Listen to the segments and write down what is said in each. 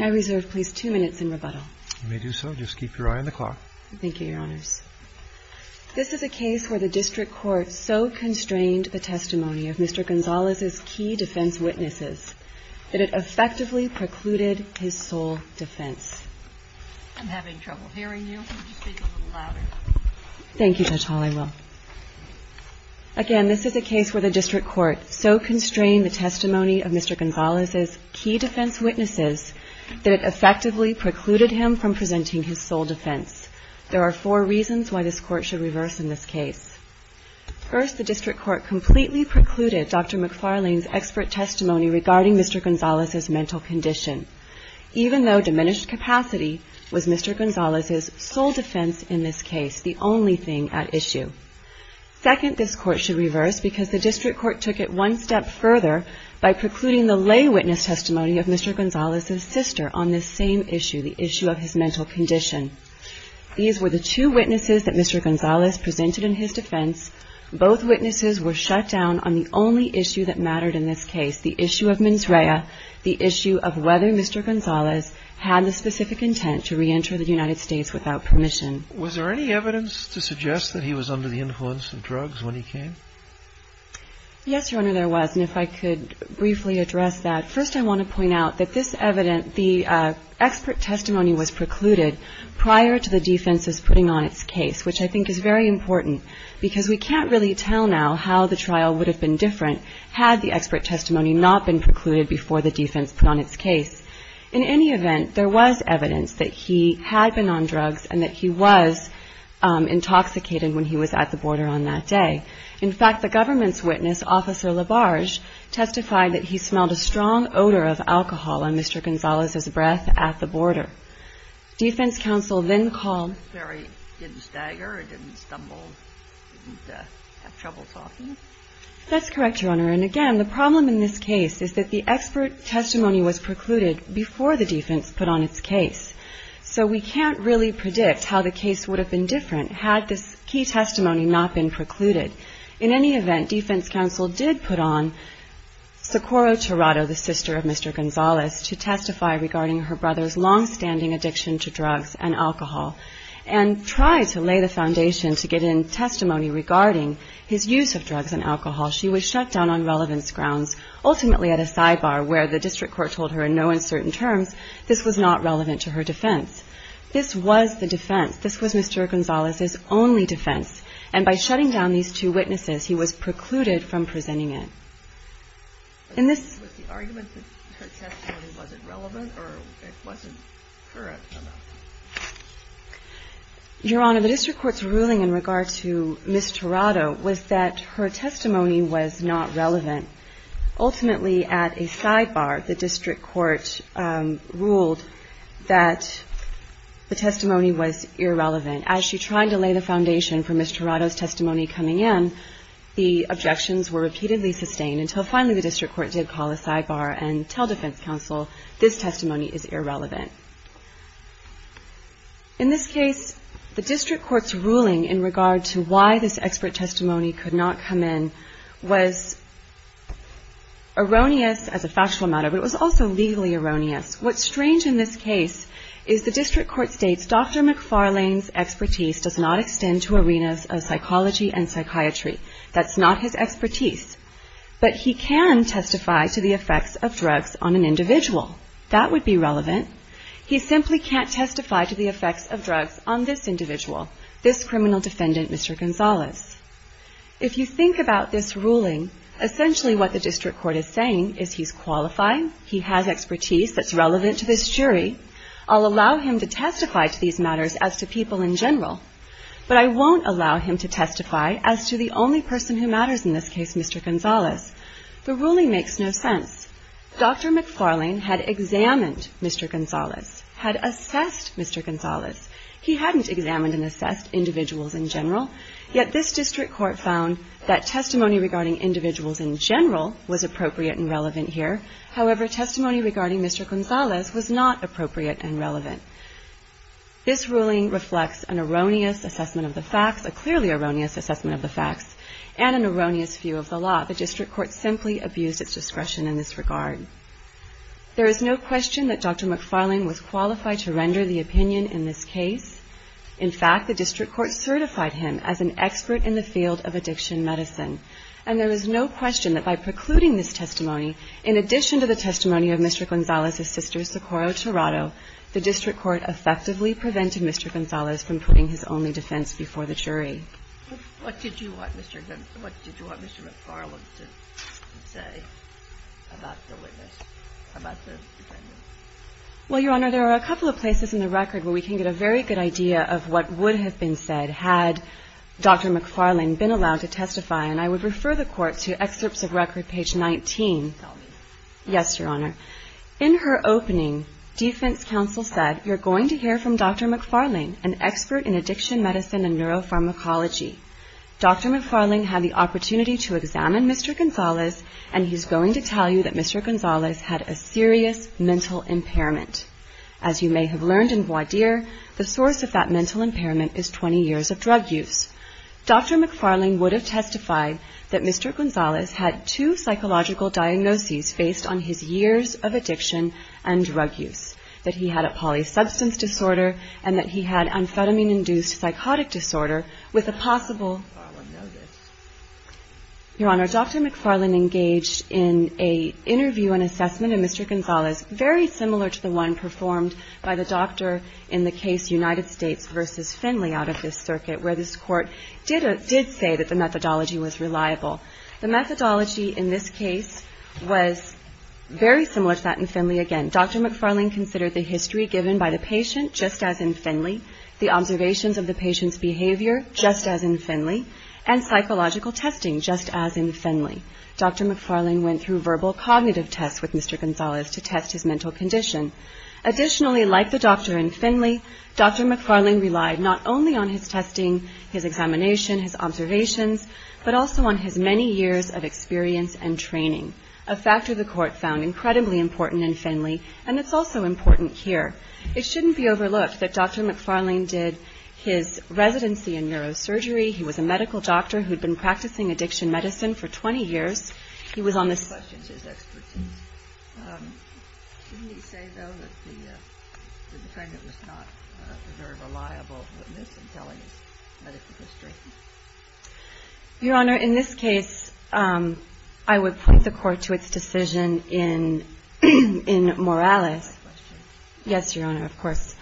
I reserve, please, two minutes in rebuttal. You may do so. Just keep your eye on the clock. Thank you, Your Honors. This is a case where the district court so constrained the testimony of Mr. Gonzalez's key defense witnesses that it effectively precluded his sole defense. I'm having trouble hearing you. Could you speak a little louder? Thank you, Judge Hall. I will. Again, this is a case where the district court so constrained the testimony of Mr. Gonzalez's key defense witnesses that it effectively precluded him from presenting his sole defense. There are four reasons why this court should reverse in this case. First, the district court completely precluded Dr. McFarlane's expert testimony regarding Mr. Gonzalez's mental condition, even though diminished capacity was Mr. Gonzalez's sole defense in this case, the only thing at issue. Second, this court should reverse because the district court took it one step further by precluding the lay witness testimony of Mr. Gonzalez's sister on this same issue, the issue of his mental condition. These were the two witnesses that Mr. Gonzalez presented in his defense. Both witnesses were shut down on the only issue that mattered in this case, the issue of mens rea, the issue of whether Mr. Gonzalez had the specific intent to reenter the United States without permission. Was there any evidence to suggest that he was under the influence of drugs when he came? Yes, Your Honor, there was. And if I could briefly address that. First, I want to point out that this evidence, the expert testimony was precluded prior to the defense's putting on its case, which I think is very important because we can't really tell now how the trial would have been different had the expert testimony not been precluded before the defense put on its case. In any event, there was evidence that he had been on drugs and that he was intoxicated when he was at the border on that day. In fact, the government's witness, Officer Labarge, testified that he smelled a strong odor of alcohol on Mr. Gonzalez's breath at the border. Defense counsel then called... Did he stagger or didn't stumble, didn't have trouble talking? That's correct, Your Honor. And again, the problem in this case is that the expert testimony was precluded before the defense put on its case. So we can't really predict how the case would have been different had this key testimony not been precluded. In any event, defense counsel did put on Socorro Tirado, the sister of Mr. Gonzalez, to testify regarding her brother's longstanding addiction to drugs and alcohol and tried to lay the foundation to get in testimony regarding his use of drugs and alcohol. She was shut down on relevance grounds, ultimately at a sidebar where the district court told her in no uncertain terms this was not relevant to her defense. This was the defense. This was Mr. Gonzalez's only defense. And by shutting down these two witnesses, he was precluded from presenting it. In this... Was the argument that her testimony wasn't relevant or it wasn't current enough? Your Honor, the district court's ruling in regard to Ms. Tirado was that her testimony was not relevant. Ultimately, at a sidebar, the district court ruled that the testimony was irrelevant. As she tried to lay the foundation for Ms. Tirado's testimony coming in, the objections were repeatedly sustained until finally the district court did call a sidebar and tell defense counsel this testimony is irrelevant. In this case, the district court's ruling in regard to why this expert testimony could not come in was erroneous as a factual matter, but it was also legally erroneous. What's strange in this case is the district court states Dr. McFarlane's expertise does not extend to arenas of psychology and psychiatry. That's not his expertise. But he can testify to the effects of drugs on an individual. That would be relevant. He simply can't testify to the effects of drugs on this individual, this criminal defendant, Mr. Gonzalez. If you think about this ruling, essentially what the district court is saying is he's qualified, he has expertise that's relevant to this jury, I'll allow him to testify to these matters as to people in general, but I won't allow him to testify as to the only person who matters in this case, Mr. Gonzalez. The ruling makes no sense. Dr. McFarlane had examined Mr. Gonzalez, had assessed Mr. Gonzalez. He hadn't examined and assessed individuals in general, yet this district court found that testimony regarding individuals in general was appropriate and relevant here. However, testimony regarding Mr. Gonzalez was not appropriate and relevant. This ruling reflects an erroneous assessment of the facts, a clearly erroneous assessment of the facts, and an erroneous view of the law. The district court simply abused its discretion in this regard. There is no question that Dr. McFarlane was qualified to render the opinion in this case. In fact, the district court certified him as an expert in the field of addiction medicine, and there is no question that by precluding this testimony, in addition to the testimony of Mr. Gonzalez's sister, Socorro Tirado, the district court effectively prevented Mr. Gonzalez from putting his only defense before the jury. What did you want Mr. McFarlane to say about the witness, about the defendant? Well, Your Honor, there are a couple of places in the record where we can get a very good idea of what would have been said had Dr. McFarlane been allowed to testify, and I would refer the court to excerpts of record page 19. Yes, Your Honor. In her opening, defense counsel said, You're going to hear from Dr. McFarlane, an expert in addiction medicine and neuropharmacology. Dr. McFarlane had the opportunity to examine Mr. Gonzalez, and he's going to tell you that Mr. Gonzalez had a serious mental impairment. As you may have learned in Guadir, the source of that mental impairment is 20 years of drug use. Dr. McFarlane would have testified that Mr. Gonzalez had two psychological diagnoses based on his years of addiction and drug use, that he had a polysubstance disorder and that he had amphetamine-induced psychotic disorder with a possible... Your Honor, Dr. McFarlane engaged in an interview and assessment of Mr. Gonzalez very similar to the one performed by the doctor in the case United States v. Finley out of this circuit, where this court did say that the methodology was reliable. The methodology in this case was very similar to that in Finley again. Dr. McFarlane considered the history given by the patient, just as in Finley, the observations of the patient's behavior, just as in Finley, and psychological testing, just as in Finley. Dr. McFarlane went through verbal cognitive tests with Mr. Gonzalez to test his mental condition. Additionally, like the doctor in Finley, Dr. McFarlane relied not only on his testing, his examination, his observations, but also on his many years of experience and training, a factor the court found incredibly important in Finley and that's also important here. It shouldn't be overlooked that Dr. McFarlane did his residency in neurosurgery. He was a medical doctor who had been practicing addiction medicine for 20 years. He was on the- He questioned his expertise. Didn't he say, though, that the defendant was not a very reliable witness in telling his medical history? Your Honor, in this case, I would point the court to its decision in Morales. Can I ask a question? Yes, Your Honor, of course.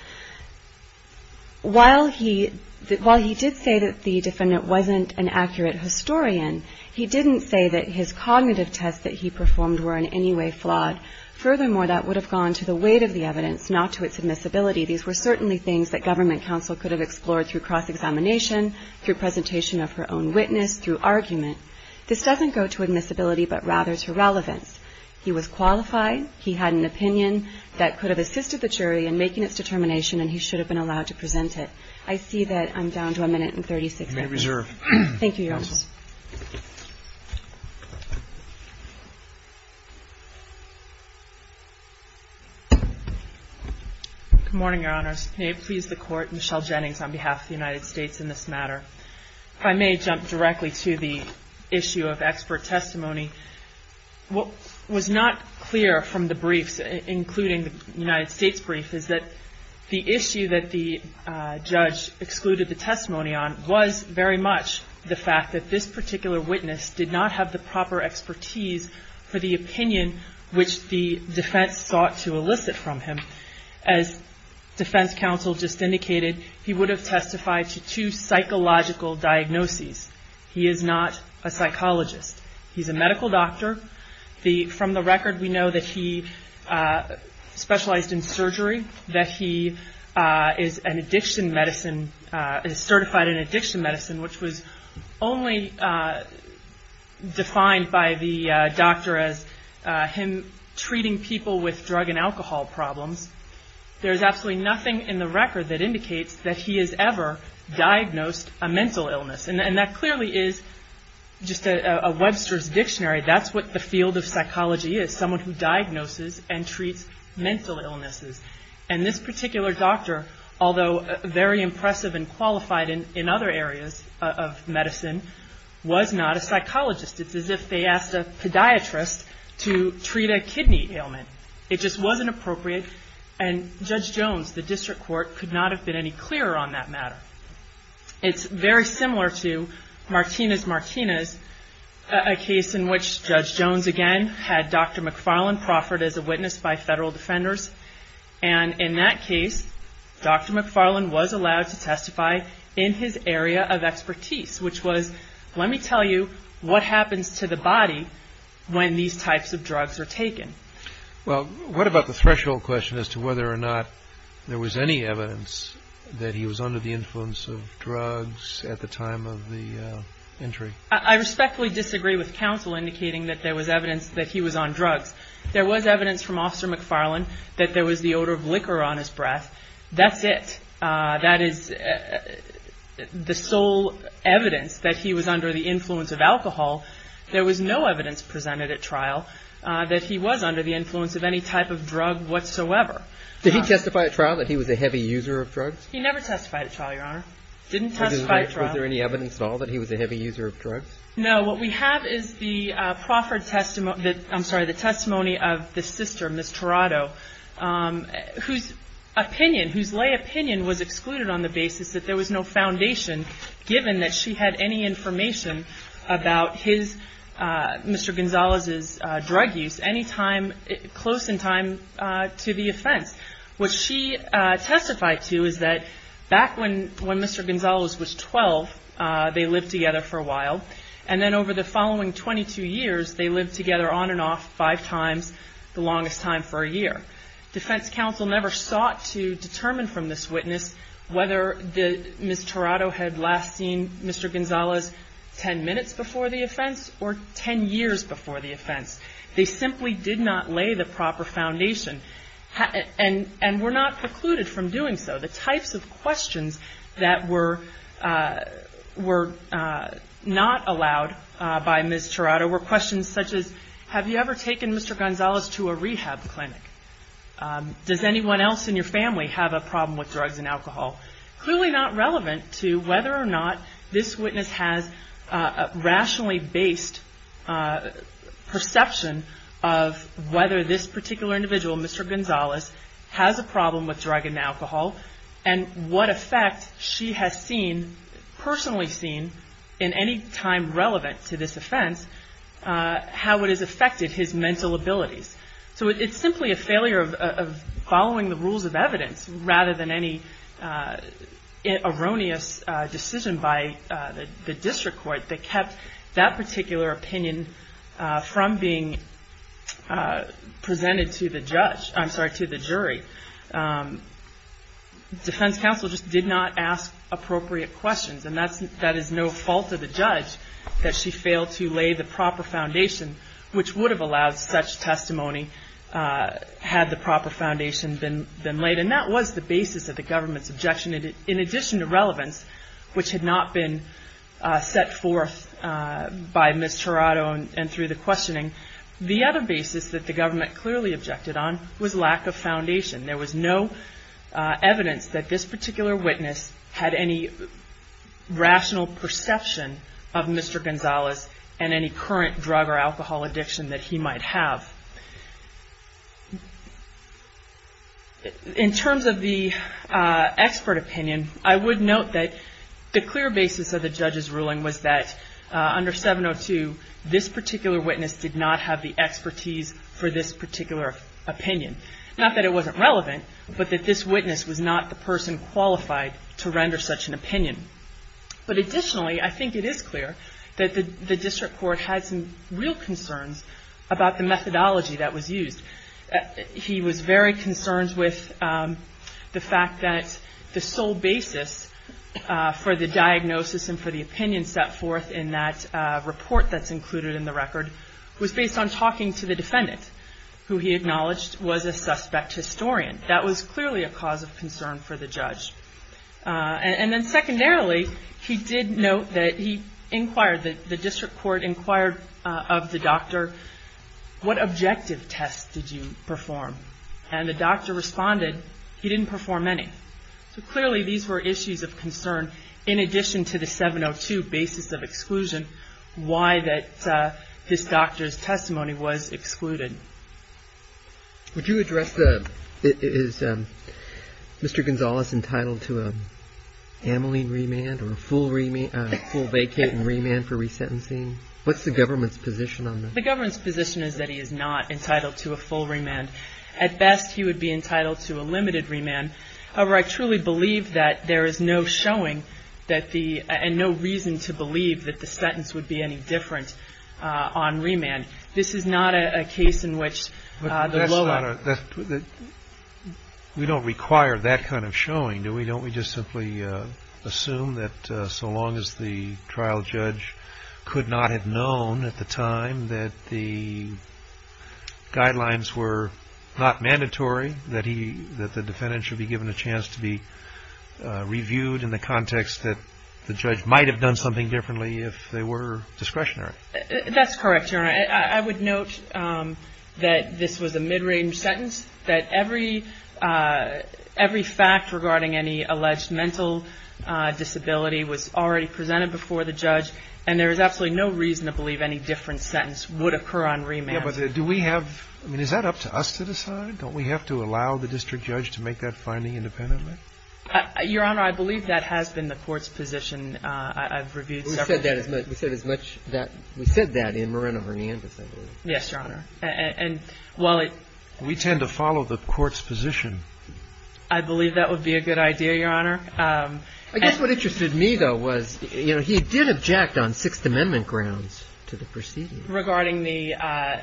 While he did say that the defendant wasn't an accurate historian, he didn't say that his cognitive tests that he performed were in any way flawed. Furthermore, that would have gone to the weight of the evidence, not to its admissibility. These were certainly things that government counsel could have explored through cross-examination, through presentation of her own witness, through argument. This doesn't go to admissibility, but rather to relevance. He was qualified. He had an opinion that could have assisted the jury in making its determination, and he should have been allowed to present it. I see that I'm down to a minute and 36 seconds. You may reserve. Thank you, Your Honor. Good morning, Your Honors. May it please the Court, Michelle Jennings on behalf of the United States in this matter. If I may jump directly to the issue of expert testimony. What was not clear from the briefs, including the United States brief, is that the issue that the judge excluded the testimony on was very much the fact that this particular witness did not have the proper expertise for the opinion which the defense sought to elicit from him. As defense counsel just indicated, he would have testified to two psychological diagnoses. He is not a psychologist. He's a medical doctor. From the record, we know that he specialized in surgery, that he is an addiction medicine, is certified in addiction medicine, which was only defined by the doctor as him treating people with drug and alcohol problems. There is absolutely nothing in the record that indicates that he has ever diagnosed a mental illness. And that clearly is just a Webster's dictionary. That's what the field of psychology is, someone who diagnoses and treats mental illnesses. And this particular doctor, although very impressive and qualified in other areas of medicine, was not a psychologist. It's as if they asked a podiatrist to treat a kidney ailment. It just wasn't appropriate. And Judge Jones, the district court, could not have been any clearer on that matter. It's very similar to Martinez-Martinez, a case in which Judge Jones, again, had Dr. McFarland proffered as a witness by federal defenders. And in that case, Dr. McFarland was allowed to testify in his area of expertise, which was, let me tell you what happens to the body when these types of drugs are taken. Well, what about the threshold question as to whether or not there was any evidence that he was under the influence of drugs at the time of the entry? I respectfully disagree with counsel indicating that there was evidence that he was on drugs. There was evidence from Officer McFarland that there was the odor of liquor on his breath. That's it. That is the sole evidence that he was under the influence of alcohol. There was no evidence presented at trial that he was under the influence of any type of drug whatsoever. Did he testify at trial that he was a heavy user of drugs? He never testified at trial, Your Honor. Didn't testify at trial. Was there any evidence at all that he was a heavy user of drugs? No. What we have is the testimony of the sister, Ms. Tirado, whose opinion, whose lay opinion was excluded on the basis that there was no foundation given that she had any information about Mr. Gonzalez's drug use close in time to the offense. What she testified to is that back when Mr. Gonzalez was 12, they lived together for a while, and then over the following 22 years, they lived together on and off five times, the longest time for a year. Defense counsel never sought to determine from this witness whether Ms. Tirado had last seen Mr. Gonzalez 10 minutes before the offense or 10 years before the offense. They simply did not lay the proper foundation and were not precluded from doing so. The types of questions that were not allowed by Ms. Tirado were questions such as, have you ever taken Mr. Gonzalez to a rehab clinic? Does anyone else in your family have a problem with drugs and alcohol? Clearly not relevant to whether or not this witness has a rationally based perception of whether this particular individual, Mr. Gonzalez, has a problem with drug and alcohol, and what effect she has seen, personally seen in any time relevant to this offense, how it has affected his mental abilities. So it's simply a failure of following the rules of evidence rather than any erroneous decision by the district court that kept that particular opinion from being presented to the judge, I'm sorry, to the jury. Defense counsel just did not ask appropriate questions, and that is no fault of the judge that she failed to lay the proper foundation, which would have allowed such testimony had the proper foundation been laid. And that was the basis of the government's objection. In addition to relevance, which had not been set forth by Ms. Tirado and through the questioning, the other basis that the government clearly objected on was lack of foundation. There was no evidence that this particular witness had any rational perception of Mr. Gonzalez and any current drug or alcohol addiction that he might have. In terms of the expert opinion, I would note that the clear basis of the judge's ruling was that under 702, this particular witness did not have the expertise for this particular opinion. Not that it wasn't relevant, but that this witness was not the person qualified to render such an opinion. But additionally, I think it is clear that the district court had some real concerns about the methodology that was used. He was very concerned with the fact that the sole basis for the diagnosis and for the opinion set forth in that report that's included in the record was based on talking to the defendant, who he acknowledged was a suspect historian. That was clearly a cause of concern for the judge. And then secondarily, he did note that he inquired, the district court inquired of the doctor, what objective tests did you perform? And the doctor responded, he didn't perform any. So clearly these were issues of concern in addition to the 702 basis of exclusion, why that this doctor's testimony was excluded. Would you address the, is Mr. Gonzalez entitled to a ameline remand or a full vacate and remand for resentencing? What's the government's position on that? The government's position is that he is not entitled to a full remand. At best, he would be entitled to a limited remand. However, I truly believe that there is no showing that the, and no reason to believe that the sentence would be any different on remand. This is not a case in which the low level. We don't require that kind of showing, do we? Don't we just simply assume that so long as the trial judge could not have known at the time that the guidelines were not mandatory, that the defendant should be given a chance to be reviewed in the context that the judge might have done something differently if they were discretionary? That's correct, Your Honor. I would note that this was a mid-range sentence, that every fact regarding any alleged mental disability was already presented before the judge, and there is absolutely no reason to believe any different sentence would occur on remand. Yeah, but do we have, I mean, is that up to us to decide? Don't we have to allow the district judge to make that finding independently? Your Honor, I believe that has been the court's position. I've reviewed several cases. We said that in Moreno v. Hernandez, I believe. Yes, Your Honor. We tend to follow the court's position. I believe that would be a good idea, Your Honor. I guess what interested me, though, was, you know, he did object on Sixth Amendment grounds to the proceedings. Regarding the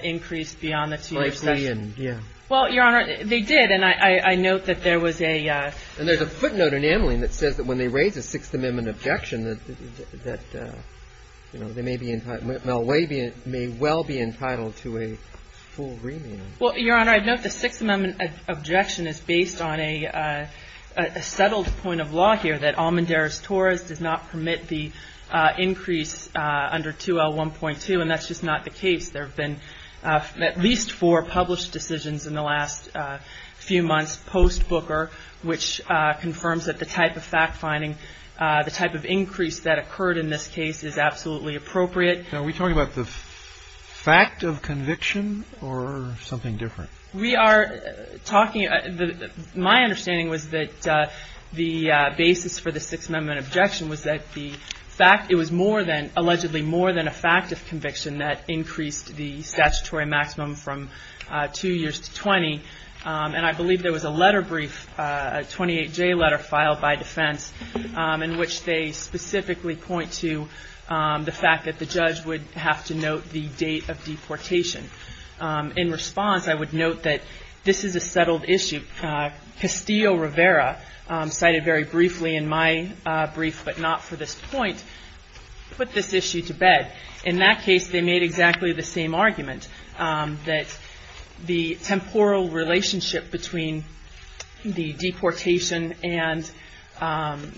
increase beyond the two-year session? Yeah. Well, Your Honor, they did, and I note that there was a... And there's a footnote enameling that says that when they raise a Sixth Amendment objection that, you know, they may be entitled, Melway may well be entitled to a full remand. Well, Your Honor, I note the Sixth Amendment objection is based on a settled point of law here, that Almendarez-Torres does not permit the increase under 2L1.2, and that's just not the case. There have been at least four published decisions in the last few months post-Booker, which confirms that the type of fact-finding, the type of increase that occurred in this case is absolutely appropriate. Are we talking about the fact of conviction or something different? We are talking... My understanding was that the basis for the Sixth Amendment objection was that the fact... Allegedly more than a fact of conviction that increased the statutory maximum from two years to 20. And I believe there was a letter brief, a 28J letter filed by defense, in which they specifically point to the fact that the judge would have to note the date of deportation. In response, I would note that this is a settled issue. Castillo-Rivera cited very briefly in my brief, but not for this point, put this issue to bed. In that case, they made exactly the same argument, that the temporal relationship between the deportation and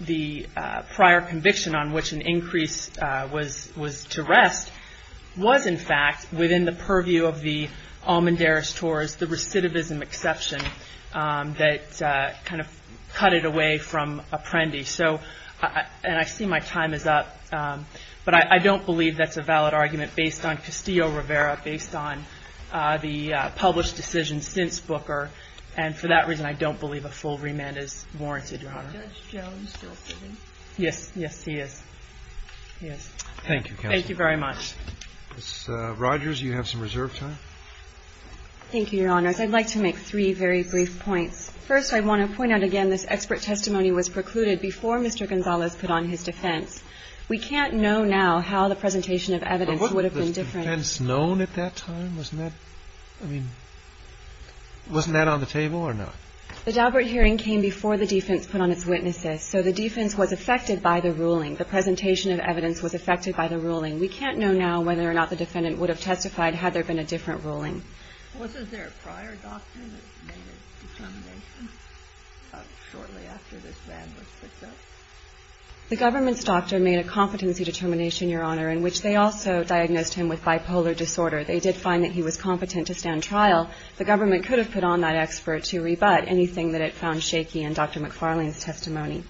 the prior conviction on which an increase was to rest was in fact within the purview of the Almendarez-Torres, the recidivism exception, that kind of cut it away from Apprendi. And I see my time is up, but I don't believe that's a valid argument based on Castillo-Rivera, based on the published decision since Booker. And for that reason, I don't believe a full remand is warranted, Your Honor. Is Judge Jones still sitting? Yes. Yes, he is. He is. Thank you, Counsel. Thank you very much. Ms. Rogers, you have some reserve time. Thank you, Your Honors. I'd like to make three very brief points. First, I want to point out again this expert testimony was precluded before Mr. Gonzales put on his defense. We can't know now how the presentation of evidence would have been different. But wasn't the defense known at that time? Wasn't that, I mean, wasn't that on the table or not? The Daubert hearing came before the defense put on its witnesses. So the defense was affected by the ruling. The presentation of evidence was affected by the ruling. We can't know now whether or not the defendant would have testified had there been a different ruling. Was there a prior doctor that made a determination shortly after this ban was put down? The government's doctor made a competency determination, Your Honor, in which they also diagnosed him with bipolar disorder. They did find that he was competent to stand trial. The government could have put on that expert to rebut anything that it found shaky in Dr. McFarlane's testimony.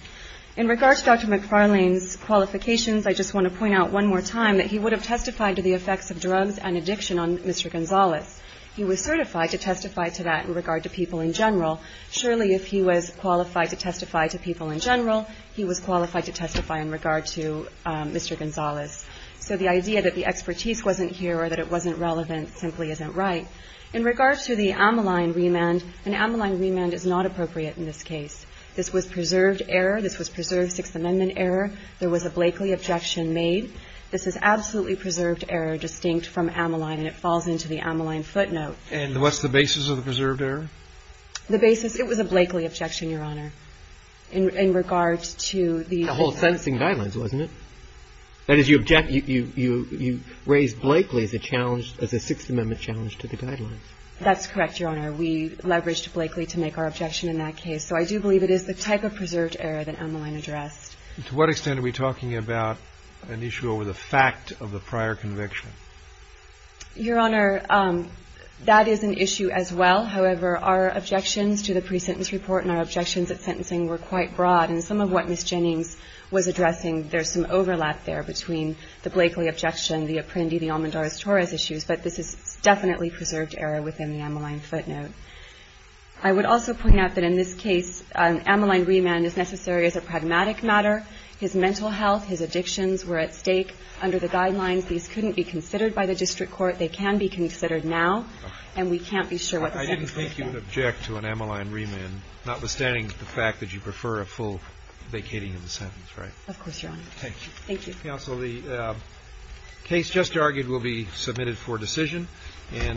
In regards to Dr. McFarlane's qualifications, I just want to point out one more time that he would have testified to the effects of drugs and addiction on Mr. Gonzales. He was certified to testify to that in regard to people in general. Surely if he was qualified to testify to people in general, he was qualified to testify in regard to Mr. Gonzales. So the idea that the expertise wasn't here or that it wasn't relevant simply isn't right. In regards to the Ammaline remand, an Ammaline remand is not appropriate in this case. This was preserved error. This was preserved Sixth Amendment error. There was a Blakely objection made. This is absolutely preserved error distinct from Ammaline, and it falls into the Ammaline footnote. And what's the basis of the preserved error? The basis, it was a Blakely objection, Your Honor, in regard to the ---- The whole sentencing guidelines, wasn't it? That is, you raised Blakely as a Sixth Amendment challenge to the guidelines. That's correct, Your Honor. We leveraged Blakely to make our objection in that case. So I do believe it is the type of preserved error that Ammaline addressed. To what extent are we talking about an issue over the fact of the prior conviction? Your Honor, that is an issue as well. However, our objections to the pre-sentence report and our objections at sentencing were quite broad. And some of what Ms. Jennings was addressing, there's some overlap there between the Blakely objection, the Apprendi, the Almendarez-Torres issues. But this is definitely preserved error within the Ammaline footnote. I would also point out that in this case, Ammaline remand is necessary as a pragmatic matter. His mental health, his addictions were at stake under the guidelines. These couldn't be considered by the district court. They can be considered now. And we can't be sure what the sentence would be. I didn't think you would object to an Ammaline remand, notwithstanding the fact that you prefer a full vacating of the sentence, right? Of course, Your Honor. Thank you. Thank you. Counsel, the case just argued will be submitted for decision.